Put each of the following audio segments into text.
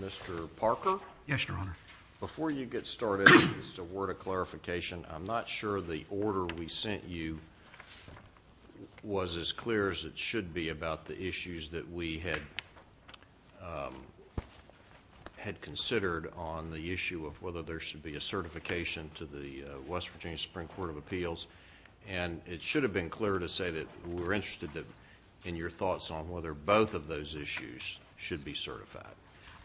Mr. Parker, before you get started, just a word of clarification, I'm not sure the on the issue of whether there should be a certification to the West Virginia Supreme Court of Appeals, and it should have been clear to say that we're interested in your thoughts on whether both of those issues should be certified.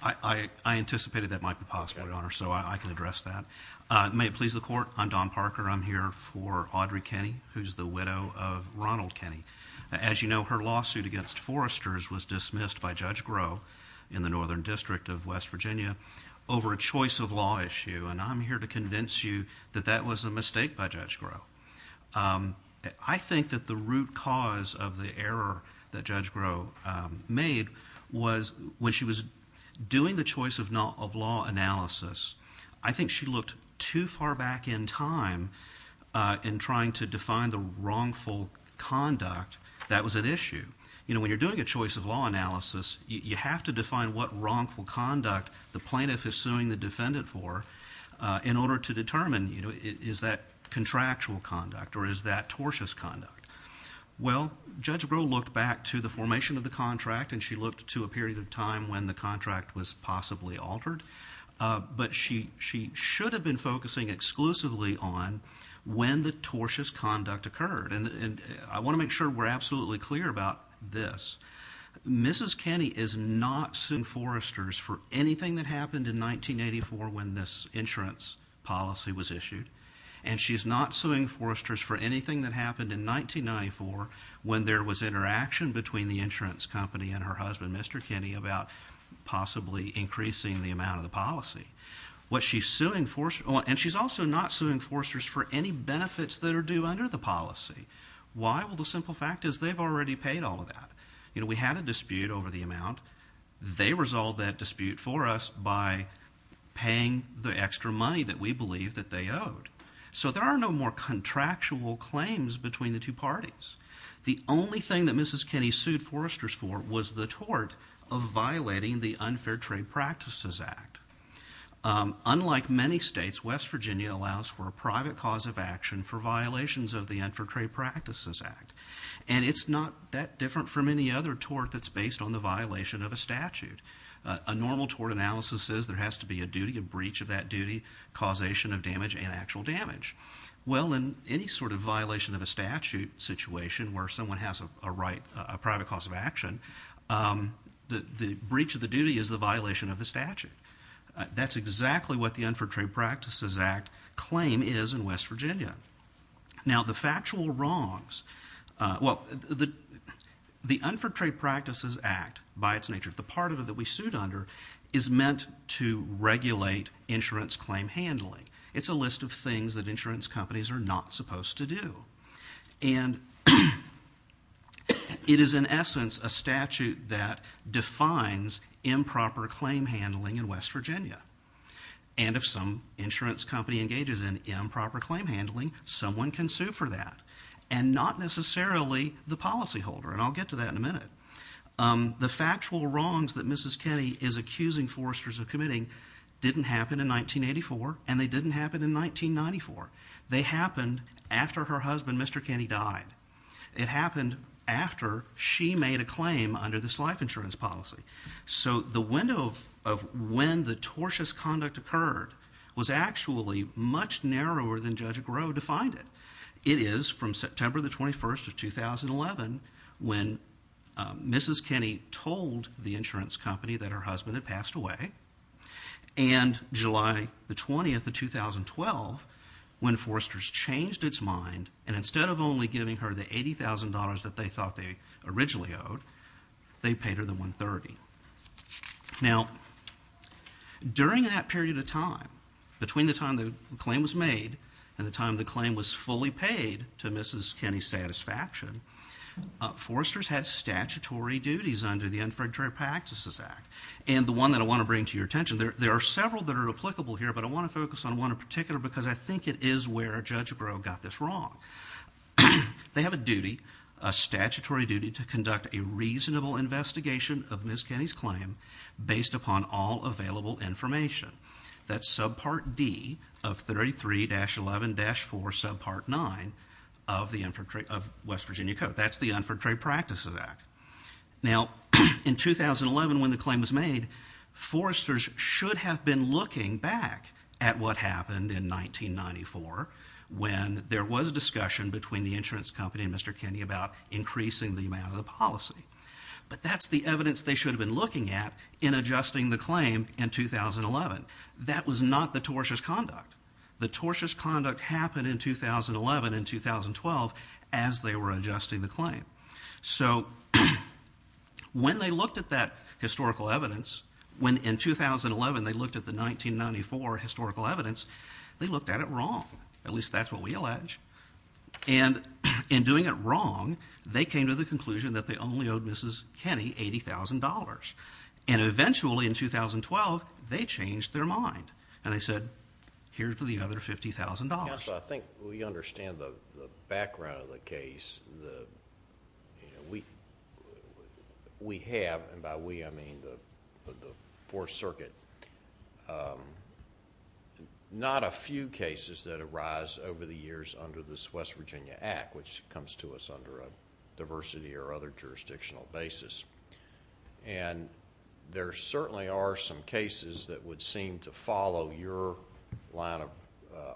I anticipated that might be possible, Your Honor, so I can address that. May it please the Court, I'm Don Parker, I'm here for Audrey Kenney, who's the widow of Ronald Kenney. As you know, her lawsuit against Foresters was dismissed by Judge Groh in the Northern District of West Virginia over a choice of law issue, and I'm here to convince you that that was a mistake by Judge Groh. I think that the root cause of the error that Judge Groh made was when she was doing the choice of law analysis, I think she looked too far back in time in trying to define the wrongful conduct that was at issue. You know, when the plaintiff is suing the defendant for, in order to determine, you know, is that contractual conduct or is that tortious conduct? Well, Judge Groh looked back to the formation of the contract and she looked to a period of time when the contract was possibly altered, but she should have been focusing exclusively on when the tortious conduct occurred, and I want to make sure we're absolutely clear about this. Mrs. Kenney is not suing Foresters for anything that happened in 1984 when this insurance policy was issued, and she's not suing Foresters for anything that happened in 1994 when there was interaction between the insurance company and her husband, Mr. Kenney, about possibly increasing the amount of the policy. What she's suing Foresters for, and she's also not suing Foresters for any benefits that are due under the policy. Why? Well, the simple fact is they've already paid all of that. You know, we had a dispute over the amount. They resolved that dispute for us by paying the extra money that we believe that they owed. So, there are no more contractual claims between the two parties. The only thing that Mrs. Kenney sued Foresters for was the tort of violating the Unfair Trade Practices Act. Unlike many states, West Virginia allows for a private cause of action for violations of the Unfair Trade Practices Act, and it's not that different from any other tort that's based on the violation of a statute. A normal tort analysis says there has to be a duty, a breach of that duty, causation of damage and actual damage. Well, in any sort of violation of a statute situation where someone has a right, a private cause of action, the breach of the duty is the violation of the statute. That's exactly what the Unfair Trade Practices Act claim is in West Virginia. Now, the factual wrongs, well, the Unfair Trade Practices Act by its nature, the part of it that we sued under is meant to regulate insurance claim handling. It's a list of things that insurance companies are not supposed to do. And it is in essence a statute that defines improper claim handling in West Virginia. And if some insurance company engages in improper claim handling, someone can sue for that. And not necessarily the policyholder, and I'll get to that in a minute. The factual wrongs that Mrs. Kenney is accusing Foresters of committing didn't happen in 1984, and they didn't happen in 1994. They happened after her husband, Mr. Kenney, died. It happened after she made a claim under this life insurance policy. So the window of when the tortious conduct occurred was actually much narrower than Judge Agro defined it. It is from September the 21st of 2011 when Mrs. Kenney told the insurance company that her husband had passed away, and July the 20th of 2012 when Foresters changed its mind, and instead of only giving her the $80,000 that they thought they originally owed, they paid her the $130,000. Now, during that period of time, between the time the claim was made and the time the claim was fully paid to Mrs. Kenney's satisfaction, Foresters had statutory duties under the Infreditary Practices Act. And the one that I want to bring to your attention, there are several that are applicable here, but I want to focus on one in particular because I think it is where Judge Agro got this wrong. They have a duty, a statutory duty, to conduct a reasonable investigation of Mrs. Kenney's claim based upon all available information. That's subpart D of 33-11-4 subpart 9 of West Virginia Code. That's the Infraditary Practices Act. Now, in 2011 when the claim was made, Foresters should have been looking back at what happened in 1994 when there was discussion between the insurance company and Mr. Kenney about increasing the amount of the policy. But that's the evidence they should have been looking at in adjusting the claim in 2011. That was not the tortious conduct. The tortious conduct happened in 2011 and 2012 as they were adjusting the claim. So when they looked at that historical evidence, when in 2011 they looked at the claim, and in doing it wrong, they came to the conclusion that they only owed Mrs. Kenney $80,000. And eventually in 2012, they changed their mind and they said, here's the other $50,000. Counsel, I think we understand the background of the case. We have, and by we I mean the Fourth Circuit, not a few cases that arise over the years under this West Virginia Act. Which comes to us under a diversity or other jurisdictional basis. And there certainly are some cases that would seem to follow your line of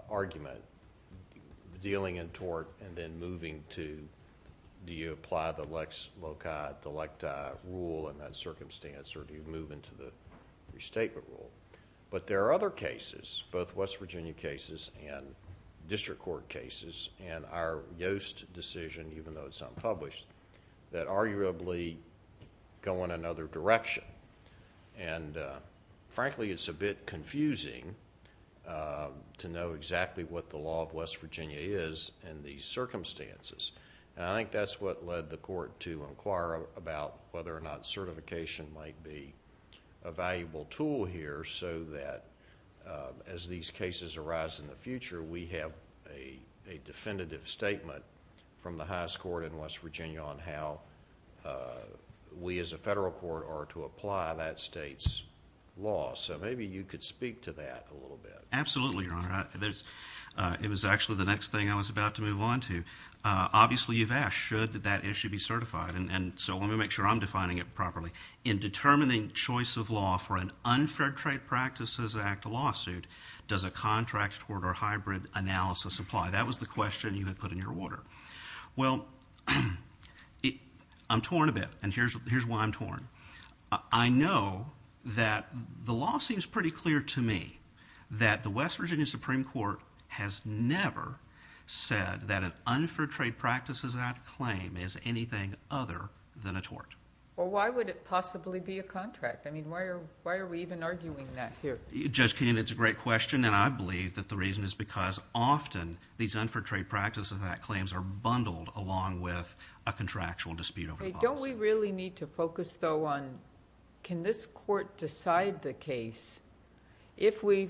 argument, dealing in tort and then moving to do you apply the Lex Loci Delecta rule in that circumstance or do you move into the restatement rule? But there are other cases, both West Virginia cases and district court cases, and our Yoast decision, even though it's unpublished, that arguably go in another direction. And frankly it's a bit confusing to know exactly what the law of West Virginia is in these circumstances. And I think that's what led the court to inquire about whether or not certification might be a valuable tool here so that as these cases arise in the future, we have a definitive statement from the highest court in West Virginia on how we as a federal court are to apply that state's law. So maybe you could speak to that a little bit. Absolutely, Your Honor. It was actually the next thing I was about to move on to. Obviously you've asked, should that issue be certified? And so let me make sure I'm defining it properly. In determining choice of law for an Unfair Trade Practices Act lawsuit, does a contract tort or hybrid analysis apply? That was the question you had put in your order. Well, I'm torn a bit and here's why I'm torn. I know that the law seems pretty clear to me that the West Virginia Supreme Court has never said that an Unfair Trade Practices Act claim is anything other than a tort. Well, why would it possibly be a contract? I mean, why are we even arguing that here? Judge Keenan, it's a great question and I believe that the reason is because often these Unfair Trade Practices Act claims are bundled along with a contractual dispute over the policy. Don't we really need to focus though on, can this court decide the case if we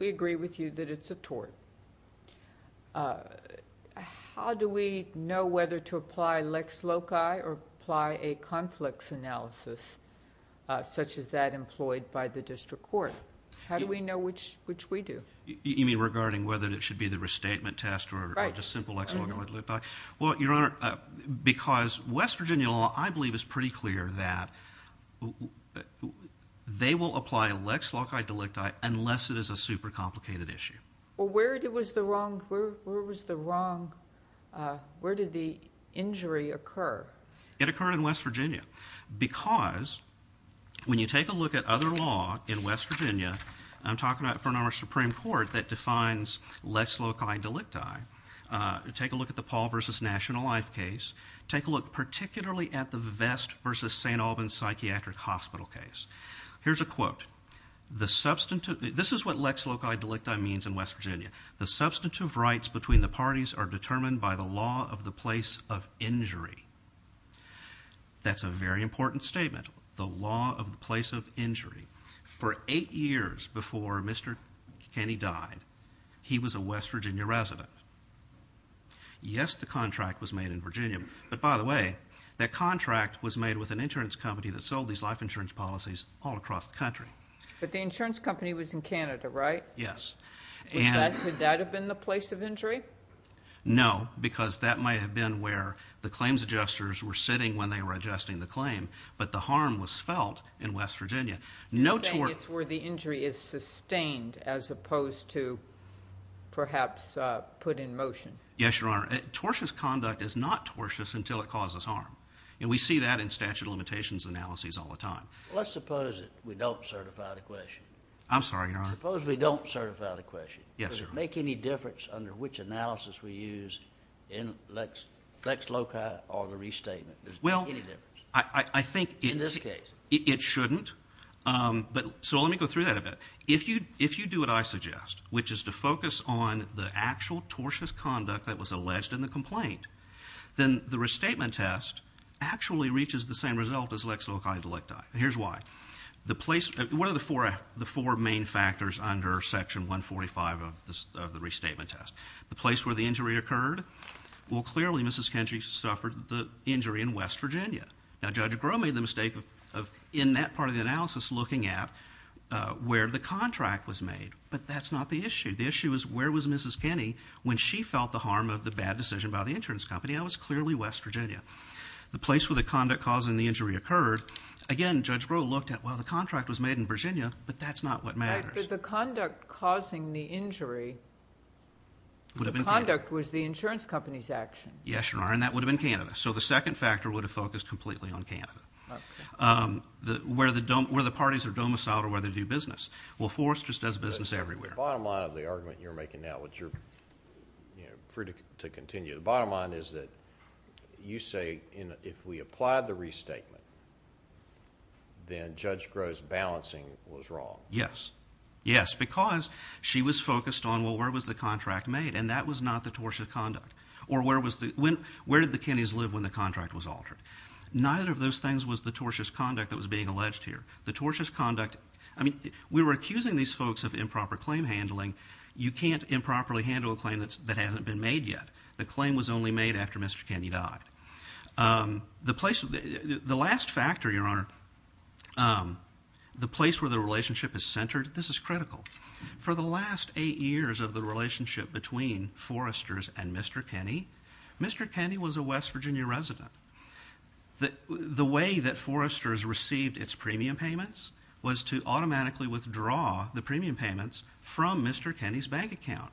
agree with you that it's a tort? How do we know whether to apply lex loci or apply hybrid analysis? Apply a conflicts analysis, such as that employed by the district court. How do we know which we do? You mean regarding whether it should be the restatement test or just simple lex loci or delicti? Well, Your Honor, because West Virginia law I believe is pretty clear that they will apply lex loci or delicti unless it is a super complicated issue. Well, where was the wrong, where did the injury occur? It occurred in West Virginia because when you take a look at other law in West Virginia, I'm talking about a Supreme Court that defines lex loci delicti. Take a look at the Paul versus National Life case. Take a look particularly at the Vest versus St. Albans Psychiatric Hospital case. Here's a quote, the substantive, this is what lex loci delicti means in West Virginia. The substantive rights between the parties are determined by the law of the place of injury. That's a very important statement. The law of the place of injury. For eight years before Mr. Kenney died, he was a West Virginia resident. Yes, the contract was made in Virginia, but by the way, that contract was made with an insurance company that sold these life insurance policies all across the country. But the insurance company was in Canada, right? Yes. Could that have been the place of injury? No, because that might have been where the claims adjusters were sitting when they were adjusting the claim, but the harm was felt in West Virginia. You're saying it's where the injury is sustained as opposed to perhaps put in motion? Yes, Your Honor. Tortious conduct is not tortious until it causes harm, and we see that in statute limitations analyses all the time. Let's suppose that we don't certify the question. I'm sorry, Your Honor. Suppose we don't certify the question. Yes, Your Honor. Does it make any difference under which analysis we use in Lex Loci or the restatement? I think it shouldn't. So let me go through that a bit. If you do what I suggest, which is to focus on the actual tortious conduct that was alleged in the complaint, then the restatement test actually reaches the same result as Lex Loci and Delecti. Here's why. What are the four main factors under Section 145 of the restatement test? The place where the injury occurred? Well, clearly, Mrs. Kenney suffered the injury in West Virginia. Now, Judge Groh made the mistake of, in that part of the analysis, looking at where the contract was made, but that's not the issue. The issue is where was Mrs. Kenney when she felt the harm of the bad decision by the insurance company, and it was clearly West Virginia. The place where the conduct causing the injury occurred, again, Judge Groh looked at, well, the contract was made in Virginia, but that's not what matters. But the conduct causing the injury, the conduct was the insurance company's action. Yes, Your Honor, and that would have been Canada. So the second factor would have focused completely on Canada. Where the parties are domiciled or where they do business. Well, Forrest just does business everywhere. The bottom line of the argument you're making now, which you're free to continue, the bottom line is, say, if we applied the restatement, then Judge Groh's balancing was wrong. Yes. Yes, because she was focused on, well, where was the contract made? And that was not the tortious conduct. Or where did the Kenneys live when the contract was altered? Neither of those things was the tortious conduct that was being alleged here. The tortious conduct, I mean, we were accusing these folks of improper claim handling. You can't improperly claim that hasn't been made yet. The claim was only made after Mr. Kenney died. The last factor, Your Honor, the place where the relationship is centered, this is critical. For the last eight years of the relationship between Forresters and Mr. Kenney, Mr. Kenney was a West Virginia resident. The way that Forresters received its premium payments was to automatically withdraw the premium payments from Mr. Kenney's bank account.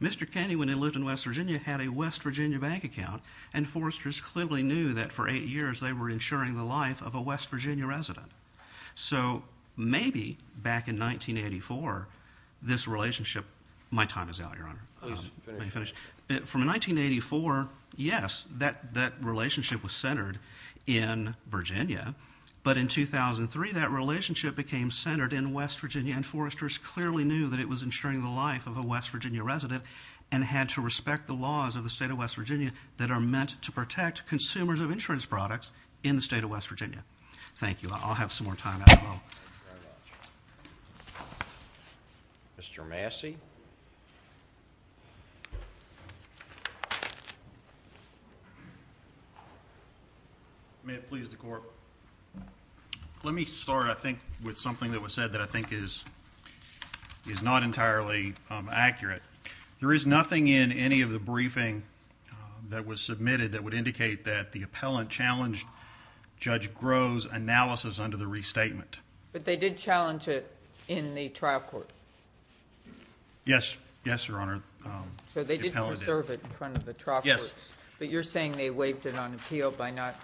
Mr. Kenney, when he lived in West Virginia, had a West Virginia bank account, and Forresters clearly knew that for eight years they were insuring the life of a West Virginia resident. So maybe back in 1984, this relationship — my time is out, Your Honor. Please, finish. Let me finish. From 1984, yes, that relationship was centered in Virginia. But in 2003, that relationship was centered in West Virginia, and Forresters clearly knew that it was insuring the life of a West Virginia resident and had to respect the laws of the state of West Virginia that are meant to protect consumers of insurance products in the state of West Virginia. Thank you. I'll have some more time after all. Mr. Massey. May it please the Court. Let me start, I think, with something that was said that I think is not entirely accurate. There is nothing in any of the briefing that was submitted that would indicate that the appellant challenged Judge Groves' analysis under the restatement. But they did challenge it in the trial court? Yes, yes, Your Honor. So they did preserve it in front of the trial courts? Yes. But you're saying they waived it on appeal by not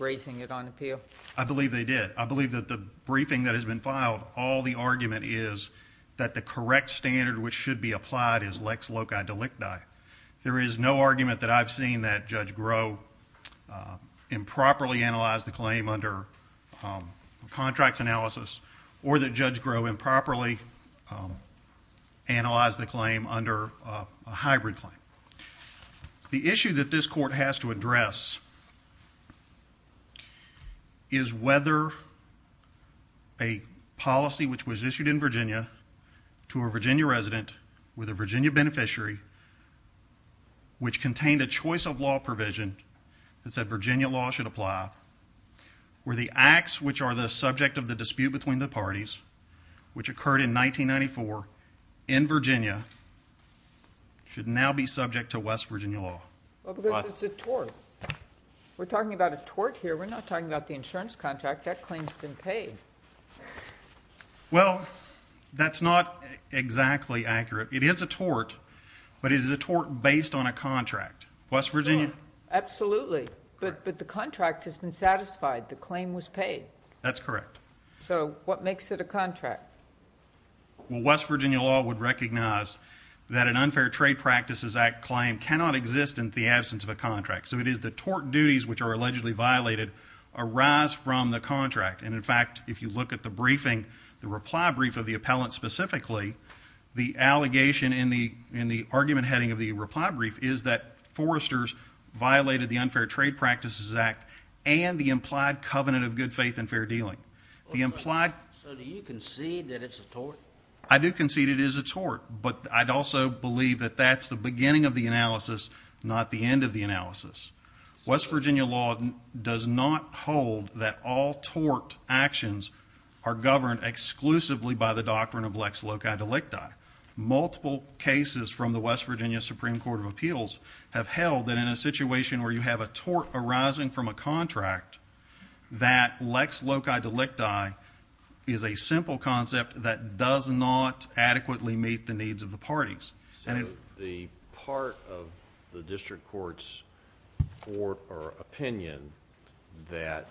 raising it on appeal? I believe they did. I believe that the briefing that has been filed, all the argument is that the correct standard which should be applied is lex loci delicti. There is no argument that I've seen that Judge Grove improperly analyzed the claim under contracts analysis or that Judge Grove improperly analyzed the claim under a hybrid claim. The issue that this Court has to address is whether a policy which was issued in Virginia to a Virginia resident with a Virginia beneficiary which contained a choice of law provision that said Virginia law should apply, where the acts which are the subject of the dispute between the parties, which occurred in 1994 in Virginia, should now be subject to West Virginia law. Well, because it's a tort. We're talking about a tort here. We're not talking about the insurance contract. That claim's been paid. Well, that's not exactly accurate. It is a tort, but it is a tort based on a contract. West Virginia? Absolutely. But the contract has been satisfied. The claim was paid. That's correct. So what makes it a contract? Well, West Virginia law would recognize that an Unfair Trade Practices Act claim cannot exist in the absence of a contract. So it is the tort duties which are allegedly violated arise from the contract. And, in fact, if you look at the briefing, the reply brief of the appellant specifically, the allegation in the argument heading of the reply brief is that Forrester's violated the Unfair Trade Practices Act and the implied covenant of good faith and fair dealing. So do you concede that it's a tort? I do concede it is a tort, but I'd also believe that that's the beginning of the analysis, not the end of the analysis. West Virginia law does not hold that all tort actions are governed exclusively by the doctrine of lex loci delicti. Multiple cases from the West Virginia Supreme Court of Appeals have held that in a situation where you have a tort arising from a contract, that lex loci delicti is a simple concept that does not adequately meet the needs of the parties. The part of the district court's opinion that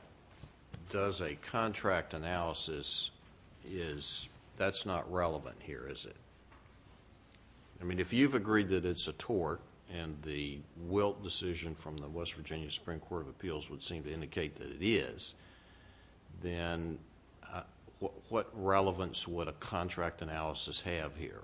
does a contract analysis is... that's not relevant here, is it? I mean, if you've agreed that it's a tort and the wilt decision from the West Virginia Supreme Court of Appeals would seem to indicate that it is, then what relevance would a contract analysis have here?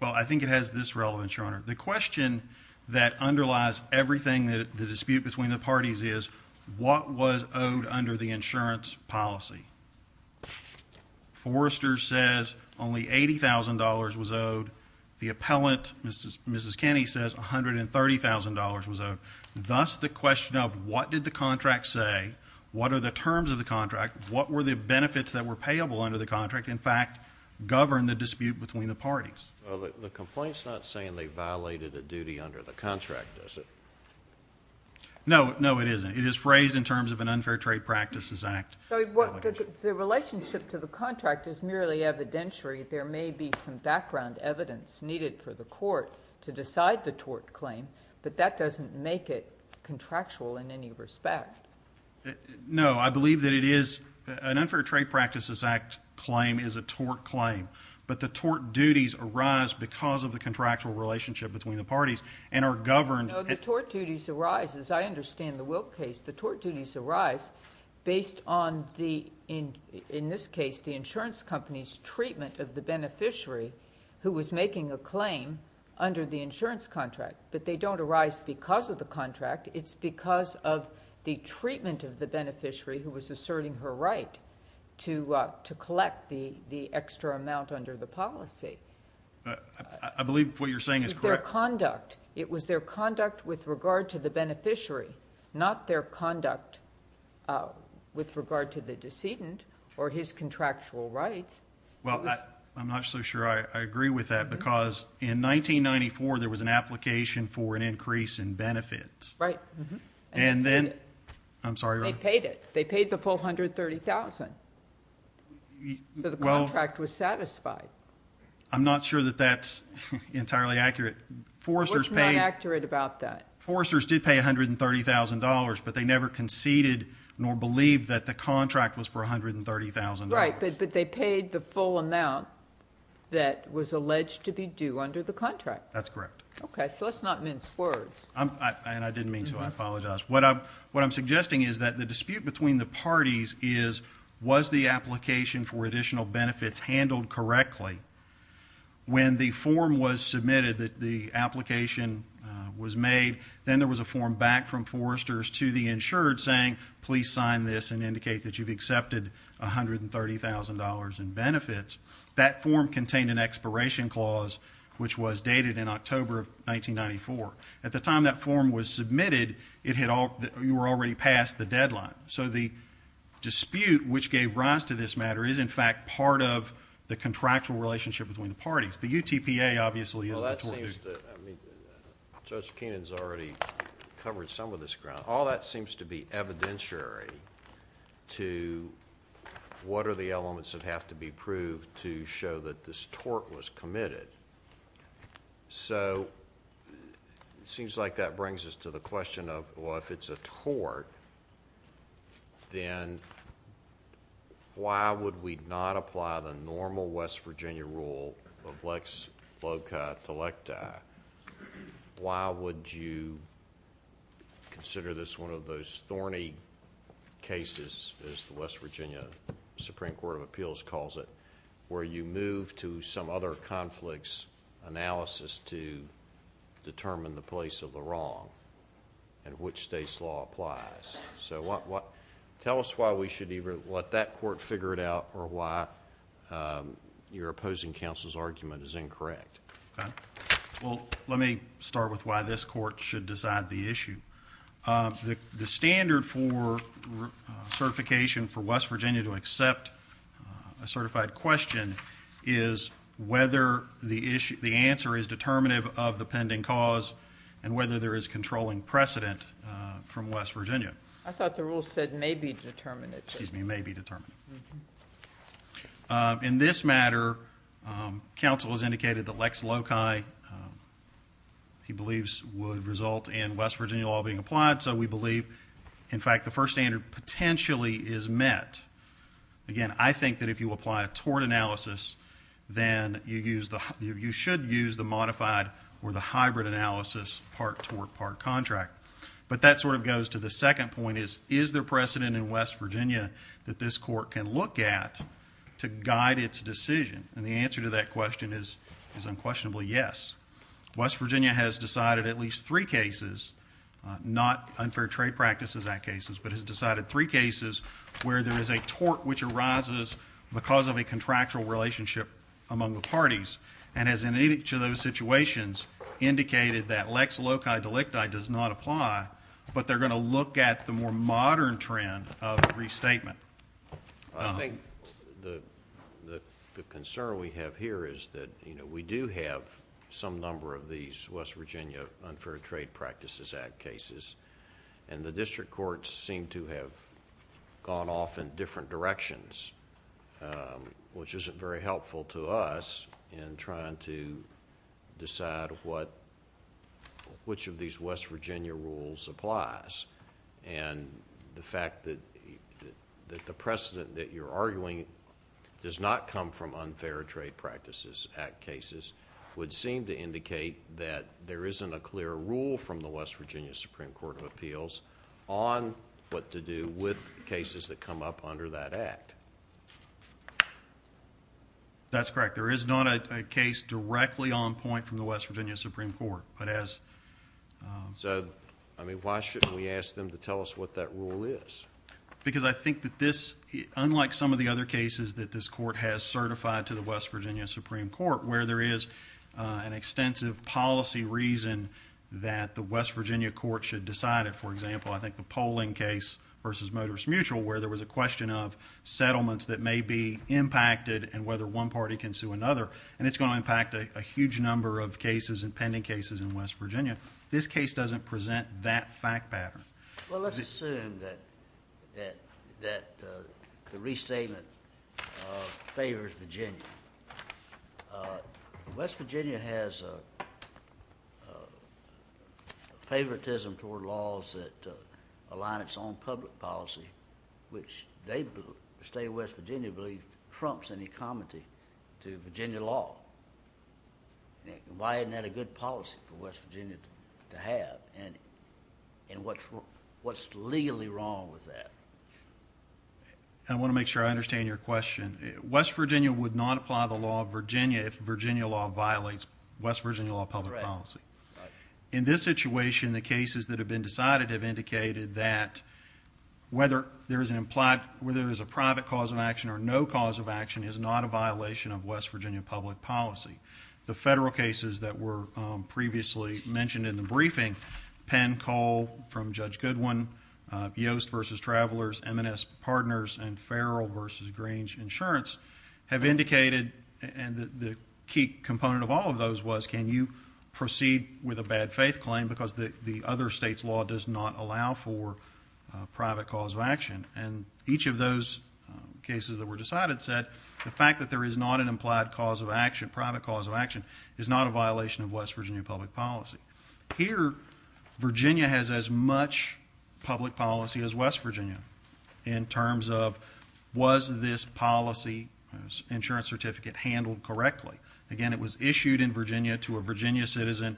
Well, I think it has this relevance, Your Honor. The question that underlies everything that the dispute between the parties is, what was owed under the insurance policy? Forrester says only $80,000 was owed. The appellant, Mrs. Kenny, says $130,000 was owed. Thus, the question of what did the contract say, what are the terms of the contract, what were the benefits that were payable under the contract, in fact, govern the dispute between the parties. Well, the complaint's not saying they violated a duty under the contract, is it? No, no, it isn't. It is phrased in terms of an unfair trade practices act. The relationship to the contract is merely evidentiary. There may be some background evidence needed for the court to decide the tort claim, but that doesn't make it contractual in any respect. No, I believe that it is... an unfair trade practices act claim is a tort claim, but the tort duties arise because of the contractual relationship between the parties and are governed... No, the tort duties arise. As I understand the Wilk case, the tort duties arise based on the... in this case, the insurance company's treatment of the beneficiary who was making a claim under the insurance contract, but they don't arise because of the contract. It's because of the treatment of the beneficiary who was asserting her right to collect the I believe what you're saying is correct. It's their conduct. It was their conduct with regard to the beneficiary, not their conduct with regard to the decedent or his contractual rights. Well, I'm not so sure I agree with that because in 1994, there was an application for an increase in benefits. Right. And then... And they paid it. I'm sorry, Your Honor. They paid it. They paid the full $130,000. So the contract was satisfied. I'm not sure that that's entirely accurate. What's not accurate about that? Forresters did pay $130,000, but they never conceded nor believed that the contract was for $130,000. Right, but they paid the full amount that was alleged to be due under the contract. That's correct. Okay, so let's not mince words. And I didn't mean to. I apologize. What I'm suggesting is that the dispute between the When the form was submitted that the application was made, then there was a form back from Forresters to the insured saying, please sign this and indicate that you've accepted $130,000 in benefits. That form contained an expiration clause, which was dated in October of 1994. At the time that form was submitted, you were already past the deadline. So the dispute which gave rise to this matter is, in fact, part of the contractual relationship between the parties. The UTPA, obviously, is the tort. Judge Keenan's already covered some of this ground. All that seems to be evidentiary to what are the elements that have to be proved to show that this tort was committed. So, it seems like that brings us to the question of, well, if it's a tort, then why would we not apply the normal West Virginia rule of lex locat delecta? Why would you consider this one of those thorny cases, as the West Virginia Supreme Court of Appeals calls it, where you move to some other conflicts analysis to determine the place of the wrong and which state's law applies? So tell us why we should either let that court figure it out or why your opposing counsel's argument is incorrect. Well, let me start with why this court should decide the issue. The standard for certification for West Virginia to accept a certified question is whether the answer is determinative of the pending cause and whether there is controlling precedent from West Virginia. I thought the rule said may be determinative. Excuse me, may be determinative. In this matter, counsel has indicated that lex loci, he believes, would result in West Virginia law being applied, so we believe, in fact, the first standard potentially is met. Again, I think that if you apply a tort analysis, then you should use the modified or the hybrid analysis part tort, part contract. But that sort of goes to the second point is, is there precedent in West Virginia that this court can look at to guide its decision? And the answer to that question is unquestionably yes. West Virginia has decided at least three cases, not Unfair Trade Practices Act cases, but has decided three cases where there is a tort which arises because of a contractual relationship among the parties and has, in each of those situations, indicated that lex loci delicti does not apply, but they're going to look at the more modern trend of restatement. I think the concern we have here is that we do have some number of these West Virginia Unfair Trade Practices Act cases, and the district courts seem to have gone off in different directions, which isn't very helpful to us in trying to decide which of these West Virginia rules applies. And the fact that the precedent that you're arguing does not come from Unfair Trade Practices Act cases would seem to indicate that there isn't a clear rule from the West Virginia Supreme Court of Appeals on what to do with cases that come up under that act. That's correct. There is not a case directly on point from the West Virginia Supreme Court, but as... So, I mean, why shouldn't we ask them to tell us what that rule is? Because I think that this, unlike some of the other cases that this court has certified to the West Virginia Supreme Court where there is an extensive policy reason that the West Virginia court should decide it, for example, I think the polling case versus Motorist Mutual where there was a question of settlements that may be impacted and whether one party can sue another. And it's going to impact a huge number of cases and pending cases in West Virginia. This case doesn't present that fact pattern. Well, let's assume that the restatement favors Virginia. West Virginia has favoritism toward laws that align its own public policy, which the state of West Virginia believes trumps any comity to Virginia law. Why isn't that a good policy for West Virginia to have? And what's legally wrong with that? I want to make sure I understand your question. West Virginia would not apply the law of Virginia if Virginia law violates West Virginia law of public policy. In this situation, the cases that have been decided have indicated that whether there is an implied... whether there is a private cause of action or no cause of action is not a violation of West Virginia public policy. The federal cases that were previously mentioned in the briefing, Penn, Cole from Judge Goodwin, Yost versus Travelers, M&S Partners, and Farrell versus Grange Insurance have indicated... and the key component of all of those was can you proceed with a bad faith claim because the other state's law does not allow for a private cause of action. And each of those cases that were decided said the fact that there is not an implied cause of action, private cause of action, is not a violation of West Virginia public policy. Here, Virginia has as much public policy as West Virginia in terms of was this policy, insurance certificate, handled correctly. Again, it was issued in Virginia to a Virginia citizen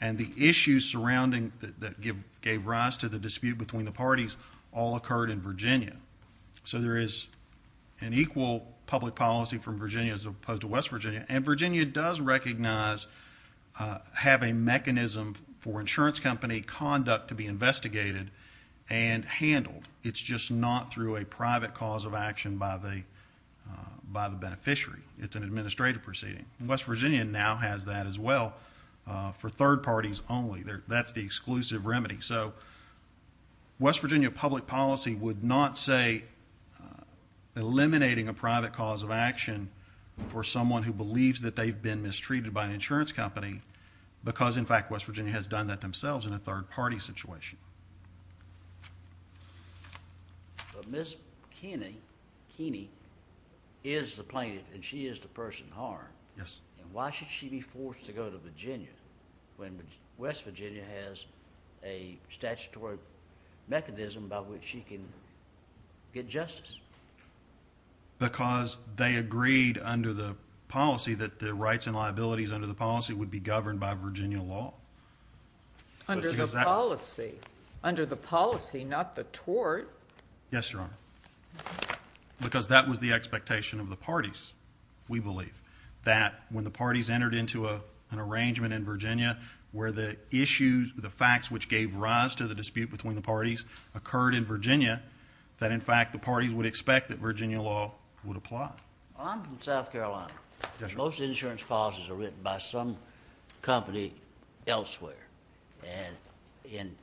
and the issues surrounding... that So there is an equal public policy from Virginia as opposed to West Virginia and Virginia does recognize having mechanism for insurance company conduct to be investigated and handled. It's just not through a private cause of action by the beneficiary. It's an administrative proceeding. West Virginia now has that as well for third parties only. That's the exclusive remedy. So West Virginia public policy would not say eliminating a private cause of action for someone who believes that they've been mistreated by an insurance company because, in fact, West Virginia has done that themselves in a third party situation. But Ms. Keeney is the plaintiff and she is the person in harm. Yes. And why should she be forced to go to Virginia when West Virginia has a statutory mechanism by which she can get justice? Because they agreed under the policy that the rights and liabilities under the policy would be governed by Virginia law. Under the policy. Under the policy, not the tort. Yes, Your Honor. Because that was the expectation of the parties, we believe, that when the parties entered into an arrangement in Virginia where the issues, the facts which gave rise to the dispute between the parties occurred in Virginia, that, in fact, the parties would expect that Virginia law would apply. Well, I'm from South Carolina. Most insurance policies are written by some company elsewhere and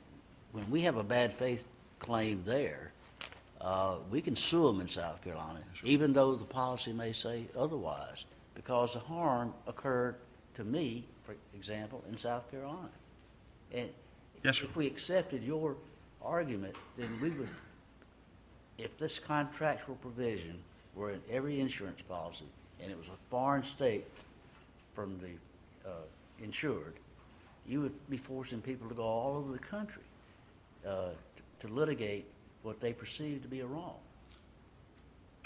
when we have a bad faith claim there, we can sue them in South Carolina, even though the policy may say otherwise, because the harm occurred to me, for example, in South Carolina. Yes, sir. If we accepted your argument, then we would, if this contractual provision were in every insurance policy and it was a foreign state from the insured, you would be forcing people to go all over the country to litigate what they perceive to be a wrong.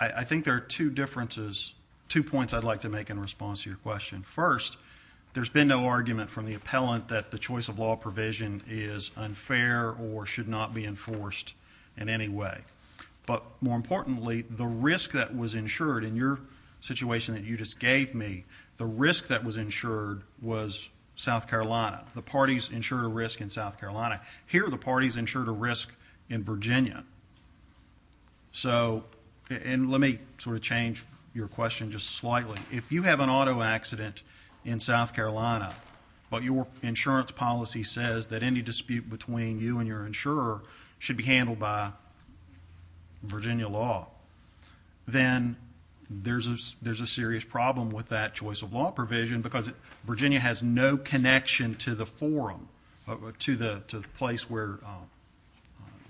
I think there are two differences, two points I'd like to make in response to your question. First, there's been no argument from the appellant that the choice of law provision is unfair or should not be enforced in any way. But more importantly, the risk that was insured in your situation that you just gave me, the risk that was insured was South Carolina. The parties insured a risk in South Carolina. Here the parties insured a risk in Virginia. So and let me sort of change your question just slightly. If you have an auto accident in South Carolina, but your insurance policy says that any dispute between you and your insurer should be handled by Virginia law, then there's a serious problem with that choice of law provision because Virginia has no connection to the forum, to the place where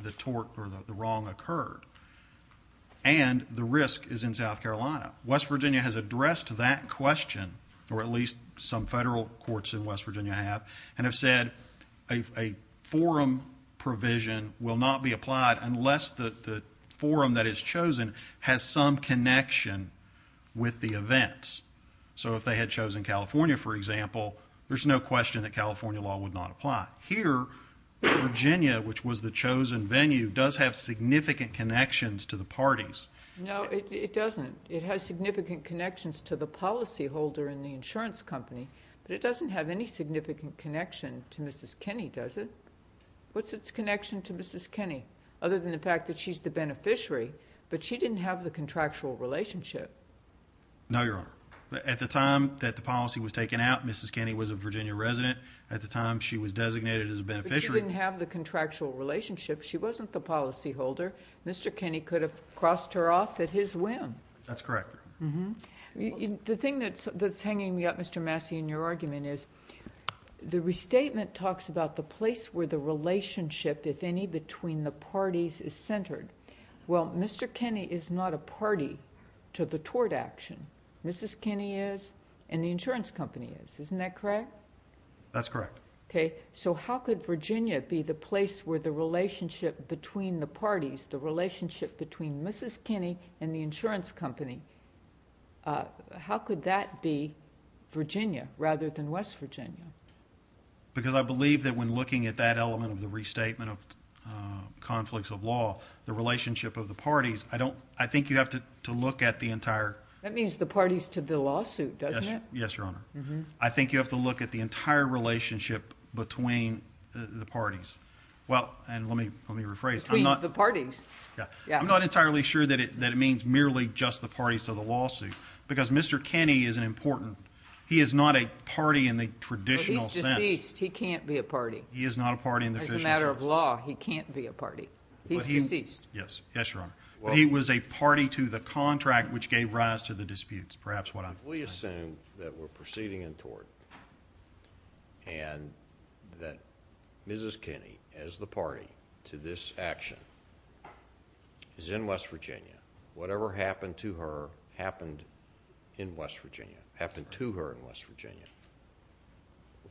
the tort or the wrong occurred. And the risk is in South Carolina. West Virginia has addressed that question, or at least some federal courts in West Virginia have, and have said a forum provision will not be applied unless the forum that is chosen has some connection with the events. So if they had chosen California, for example, there's no question that California law would not apply. Here, Virginia, which was the chosen venue, does have significant connections to the parties. No, it doesn't. It has significant connections to the policyholder in the insurance company, but it doesn't have any significant connection to Mrs. Kinney, does it? What's its connection to Mrs. Kinney, other than the fact that she's the beneficiary? But she didn't have the contractual relationship. No, Your Honor. At the time that the policy was taken out, Mrs. Kinney was a Virginia resident. At the time she was designated as a beneficiary... But she didn't have the contractual relationship. She wasn't the policyholder. Mr. Kinney could have crossed her off at his whim. That's correct. Mm-hmm. The thing that's hanging me up, Mr. Massey, in your argument is the restatement talks about the place where the relationship, if any, between the parties is centered. Well, Mr. Kinney is not a party to the tort action. Mrs. Kinney is, and the insurance company is. Isn't that correct? That's correct. Okay. So how could Virginia be the place where the relationship between the parties, the relationship between Mrs. Kinney and the insurance company, how could that be Virginia, rather than West Virginia? Because I believe that when looking at that element of the restatement of conflicts of law, the relationship of the parties, I don't... I think you have to look at the entire... That means the parties to the lawsuit, doesn't it? Yes, Your Honor. Mm-hmm. I think you have to look at the entire relationship between the parties. Well, and let me rephrase... Between the parties. Yeah. Yeah. I'm not entirely sure that it means merely just the parties to the lawsuit, because Mr. Kinney is an important... he is not a party in the traditional sense. But he's deceased. He can't be a party. He is not a party in the traditional sense. As a matter of law, he can't be a party. He's deceased. Yes. Yes, Your Honor. Well... But he was a party to the contract, which gave rise to the disputes. Perhaps what I'm... If we assume that we're proceeding in tort, and that Mrs. Kinney, as the party to this action, is in West Virginia, whatever happened to her happened in West Virginia, happened to her in West Virginia,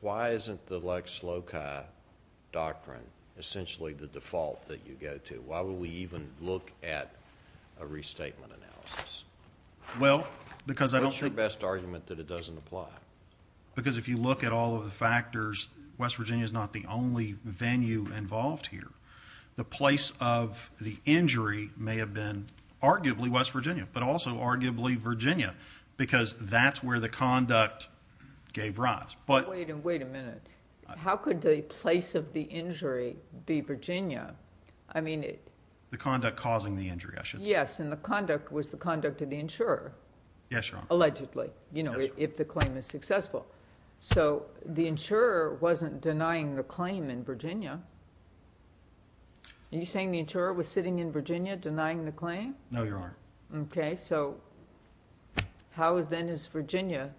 why isn't the Lex Loci doctrine essentially the default that you go to? Why would we even look at a restatement analysis? Well, because I don't think... What's your best argument that it doesn't apply? Because if you look at all of the factors, West Virginia is not the only venue involved here. The place of the injury may have been arguably West Virginia, but also arguably Virginia, because that's where the conduct gave rise. But... Wait a minute. Wait a minute. How could the place of the injury be Virginia? I mean... The conduct causing the injury, I should say. Yes. And the conduct was the conduct of the insurer... Yes, Your Honor.... allegedly. Yes, Your Honor. You know, if the claim is successful. So the insurer wasn't denying the claim in Virginia. Are you saying the insurer was sitting in Virginia denying the claim? No, Your Honor. Okay. So, how then is Virginia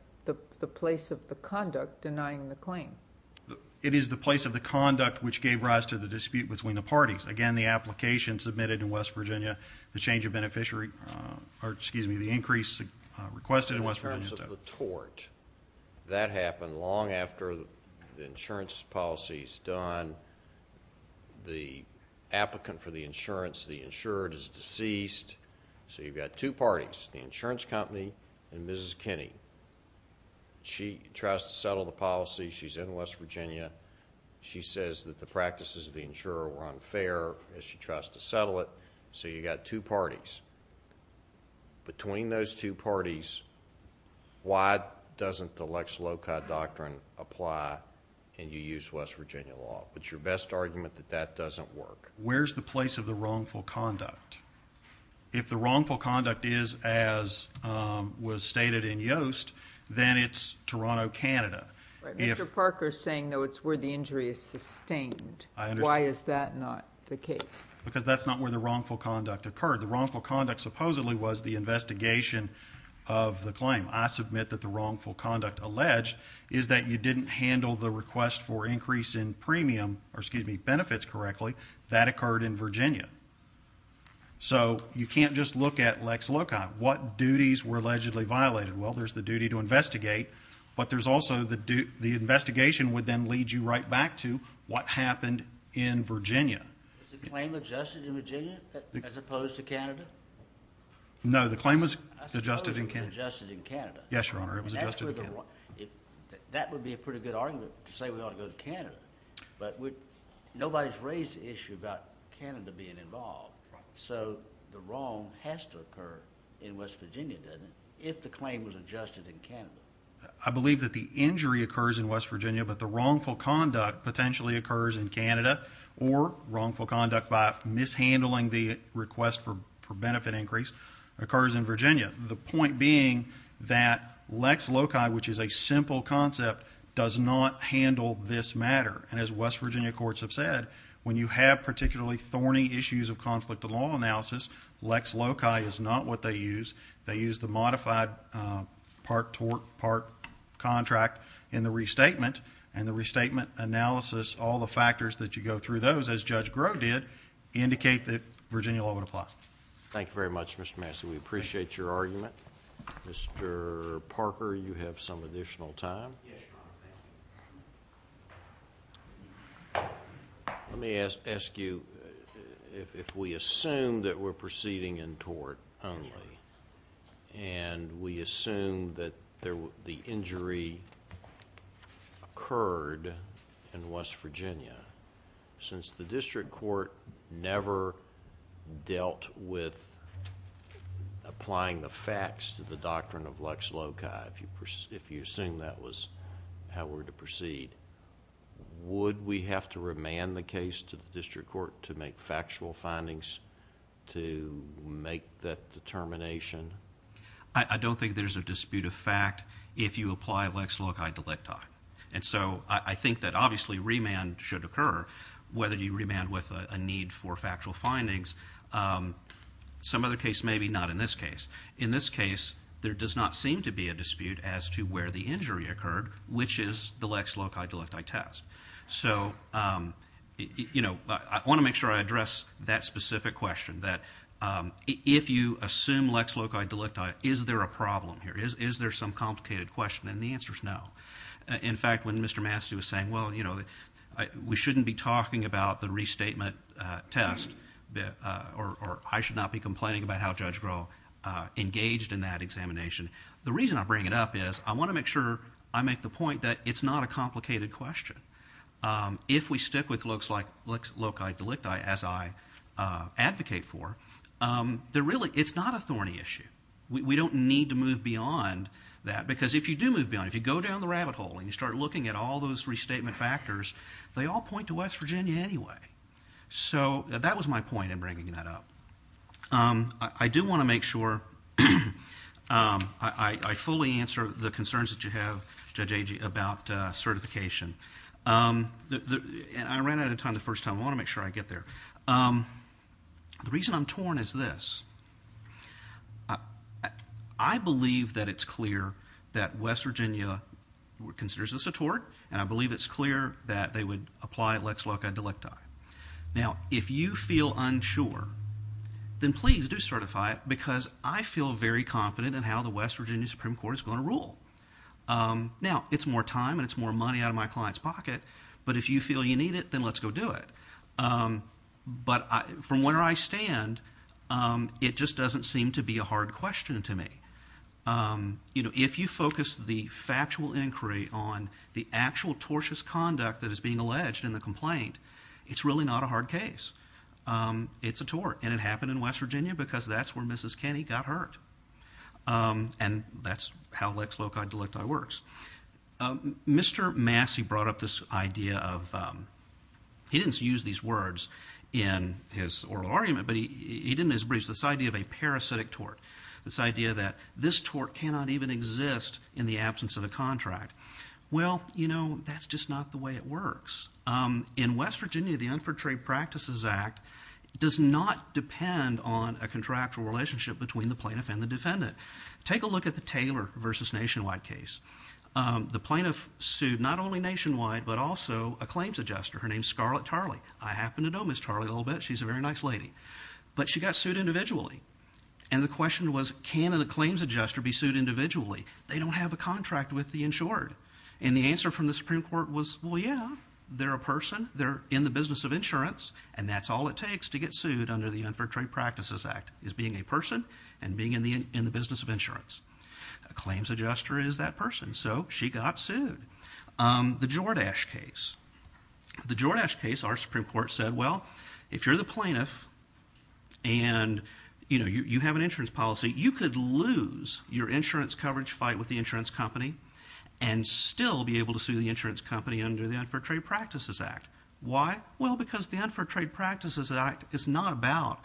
the place of the conduct denying the claim? It is the place of the conduct which gave rise to the dispute between the parties. Again, the application submitted in West Virginia, the change of beneficiary... or excuse me, the increase requested in West Virginia... In terms of the tort. That happened long after the insurance policy is done. The applicant for the insurance, the insurer is deceased. So, you've got two parties, the insurance company and Mrs. Kinney. She tries to settle the policy. She's in West Virginia. She says that the practices of the insurer were unfair as she tries to settle it. So, you've got two parties. Between those two parties, why doesn't the Lex LOCA doctrine apply and you use West Virginia law? It's your best argument that that doesn't work. Where's the place of the wrongful conduct? If the wrongful conduct is as was stated in Yoast, then it's Toronto, Canada. Mr. Parker is saying, though, it's where the injury is sustained. Why is that not the case? Because that's not where the wrongful conduct occurred. The wrongful conduct supposedly was the investigation of the claim. I submit that the wrongful conduct alleged is that you didn't handle the request for increase in premium, or excuse me, benefits correctly. That occurred in Virginia. So, you can't just look at Lex LOCA. What duties were allegedly violated? Well, there's the duty to investigate, but there's also the investigation would then lead you right back to what happened in Virginia. Is the claim adjusted in Virginia as opposed to Canada? No, the claim was adjusted in Canada. I suppose it was adjusted in Canada. Yes, Your Honor. It was adjusted in Canada. That would be a pretty good argument to say we ought to go to Canada, but nobody's raised the issue about Canada being involved. So, the wrong has to occur in West Virginia, doesn't it, if the claim was adjusted in Canada? I believe that the injury occurs in West Virginia, but the wrongful conduct potentially occurs in Canada, or wrongful conduct by mishandling the request for benefit increase occurs in Virginia. The point being that Lex LOCA, which is a simple concept, does not handle this matter. And as West Virginia courts have said, when you have particularly thorny issues of conflict of law analysis, Lex LOCA is not what they use. They use the modified part-tort-part contract in the restatement, and the restatement analysis, all the factors that you go through those, as Judge Grove did, indicate that Virginia law would apply. Thank you very much, Mr. Massey. We appreciate your argument. Mr. Parker, you have some additional time. Yes, Your Honor. Thank you. Let me ask you, if we assume that we're proceeding in tort only, and we assume that the injury occurred in West Virginia, since the district court never dealt with applying the facts to the doctrine of Lex LOCA, if you assume that was how we were to proceed, would we have to remand the case to the district court to make factual findings to make that determination? I don't think there's a dispute of fact. If you apply Lex LOCA delicti. And so I think that obviously remand should occur, whether you remand with a need for factual findings. Some other case maybe, not in this case. In this case, there does not seem to be a dispute as to where the injury occurred, which is the Lex LOCA delicti test. So I want to make sure I address that specific question, that if you assume Lex LOCA delicti, is there a problem here? Is there some complicated question? And the answer's no. In fact, when Mr. Massey was saying, well, you know, we shouldn't be talking about the restatement test, or I should not be complaining about how Judge Groh engaged in that examination. The reason I bring it up is, I want to make sure I make the point that it's not a complicated question. If we stick with Lex LOCA delicti, as I advocate for, it's not a thorny issue. We don't need to move beyond that, because if you do move beyond, if you go down the rabbit hole and you start looking at all those restatement factors, they all point to West Virginia anyway. So that was my point in bringing that up. I do want to make sure I fully answer the concerns that you have, Judge Agee, about certification. And I ran out of time the first time, I want to make sure I get there. The reason I'm torn is this. I believe that it's clear that West Virginia considers this a tort, and I believe it's clear that they would apply Lex LOCA delicti. Now if you feel unsure, then please do certify it, because I feel very confident in how the West Virginia Supreme Court is going to rule. Now it's more time and it's more money out of my client's pocket, but if you feel you need it, then let's go do it. But from where I stand, it just doesn't seem to be a hard question to me. You know, if you focus the factual inquiry on the actual tortious conduct that is being alleged in the complaint, it's really not a hard case. It's a tort. And it happened in West Virginia, because that's where Mrs. Kenny got hurt. And that's how Lex LOCA delicti works. Mr. Massey brought up this idea of, he didn't use these words in his oral argument, but he did in his briefs, this idea of a parasitic tort. This idea that this tort cannot even exist in the absence of a contract. Well, you know, that's just not the way it works. In West Virginia, the Unfortunate Trade Practices Act does not depend on a contractual relationship between the plaintiff and the defendant. Take a look at the Taylor v. Nationwide case. The plaintiff sued not only Nationwide, but also a claims adjuster. Her name's Scarlett Tarley. I happen to know Ms. Tarley a little bit. She's a very nice lady. But she got sued individually. And the question was, can a claims adjuster be sued individually? They don't have a contract with the insured. And the answer from the Supreme Court was, well, yeah, they're a person. They're in the business of insurance. And that's all it takes to get sued under the Unfortunate Trade Practices Act, is being a person and being in the business of insurance. A claims adjuster is that person. So she got sued. The Jordache case. The Jordache case, our Supreme Court said, well, if you're the plaintiff and, you know, you have an insurance policy, you could lose your insurance coverage fight with the insurance company and still be able to sue the insurance company under the Unfortunate Trade Practices Act. Why? Well, because the Unfortunate Trade Practices Act is not about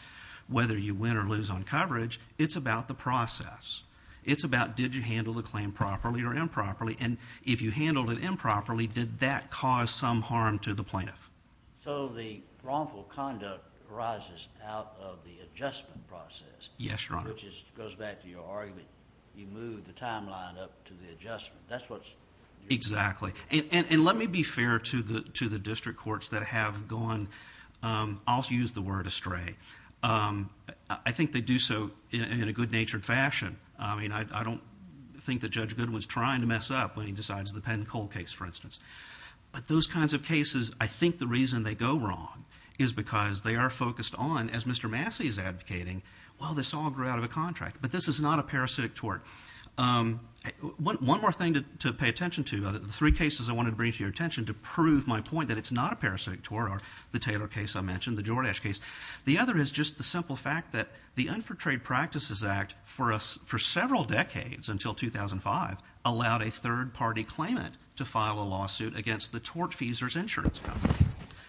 whether you win or lose on coverage. It's about the process. It's about did you handle the claim properly or improperly. And if you handled it improperly, did that cause some harm to the plaintiff? So the wrongful conduct arises out of the adjustment process. Yes, Your Honor. Which goes back to your argument. You move the timeline up to the adjustment. That's what's... Exactly. And let me be fair to the district courts that have gone, I'll use the word, astray. I think they do so in a good-natured fashion. I mean, I don't think that Judge Goodwin's trying to mess up when he decides the Penn and Cole case, for instance. But those kinds of cases, I think the reason they go wrong is because they are focused on, as Mr. Massey is advocating, well, this all grew out of a contract. But this is not a parasitic tort. One more thing to pay attention to, the three cases I wanted to bring to your attention to prove my point that it's not a parasitic tort are the Taylor case I mentioned, the Jordache case. The other is just the simple fact that the Unfor Trade Practices Act for several decades until 2005 allowed a third-party claimant to file a lawsuit against the tort-feasors insurance company.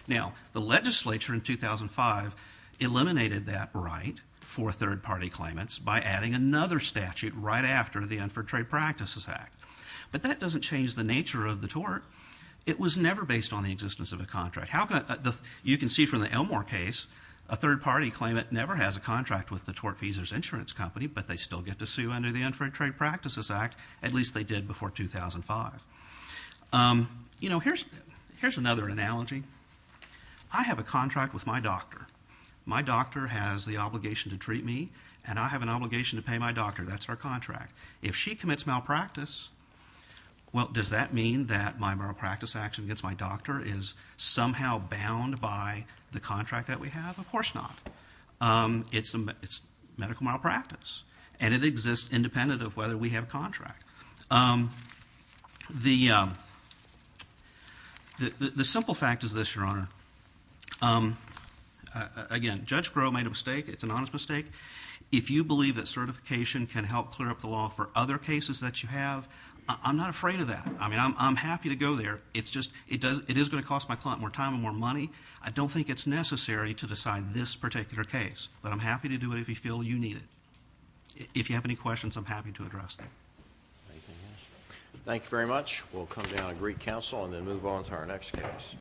Now, the legislature in 2005 eliminated that right for third-party claimants by adding another statute right after the Unfor Trade Practices Act. But that doesn't change the nature of the tort. It was never based on the existence of a contract. You can see from the Elmore case, a third-party claimant never has a contract with the tort-feasors insurance company, but they still get to sue under the Unfor Trade Practices Act, at least they did before 2005. You know, here's another analogy. I have a contract with my doctor. My doctor has the obligation to treat me, and I have an obligation to pay my doctor. That's our contract. If she commits malpractice, well, does that mean that my malpractice action against my doctor is somehow bound by the contract that we have? Of course not. It's medical malpractice, and it exists independent of whether we have a contract. The simple fact is this, Your Honor. Again, Judge Crowe made a mistake. It's an honest mistake. If you believe that certification can help clear up the law for other cases that you have, I'm not afraid of that. I mean, I'm happy to go there. It's just, it is going to cost my client more time and more money. I don't think it's necessary to decide this particular case, but I'm happy to do it if you feel you need it. If you have any questions, I'm happy to address them. Thank you very much. We'll come down and greet counsel and then move on to our next case.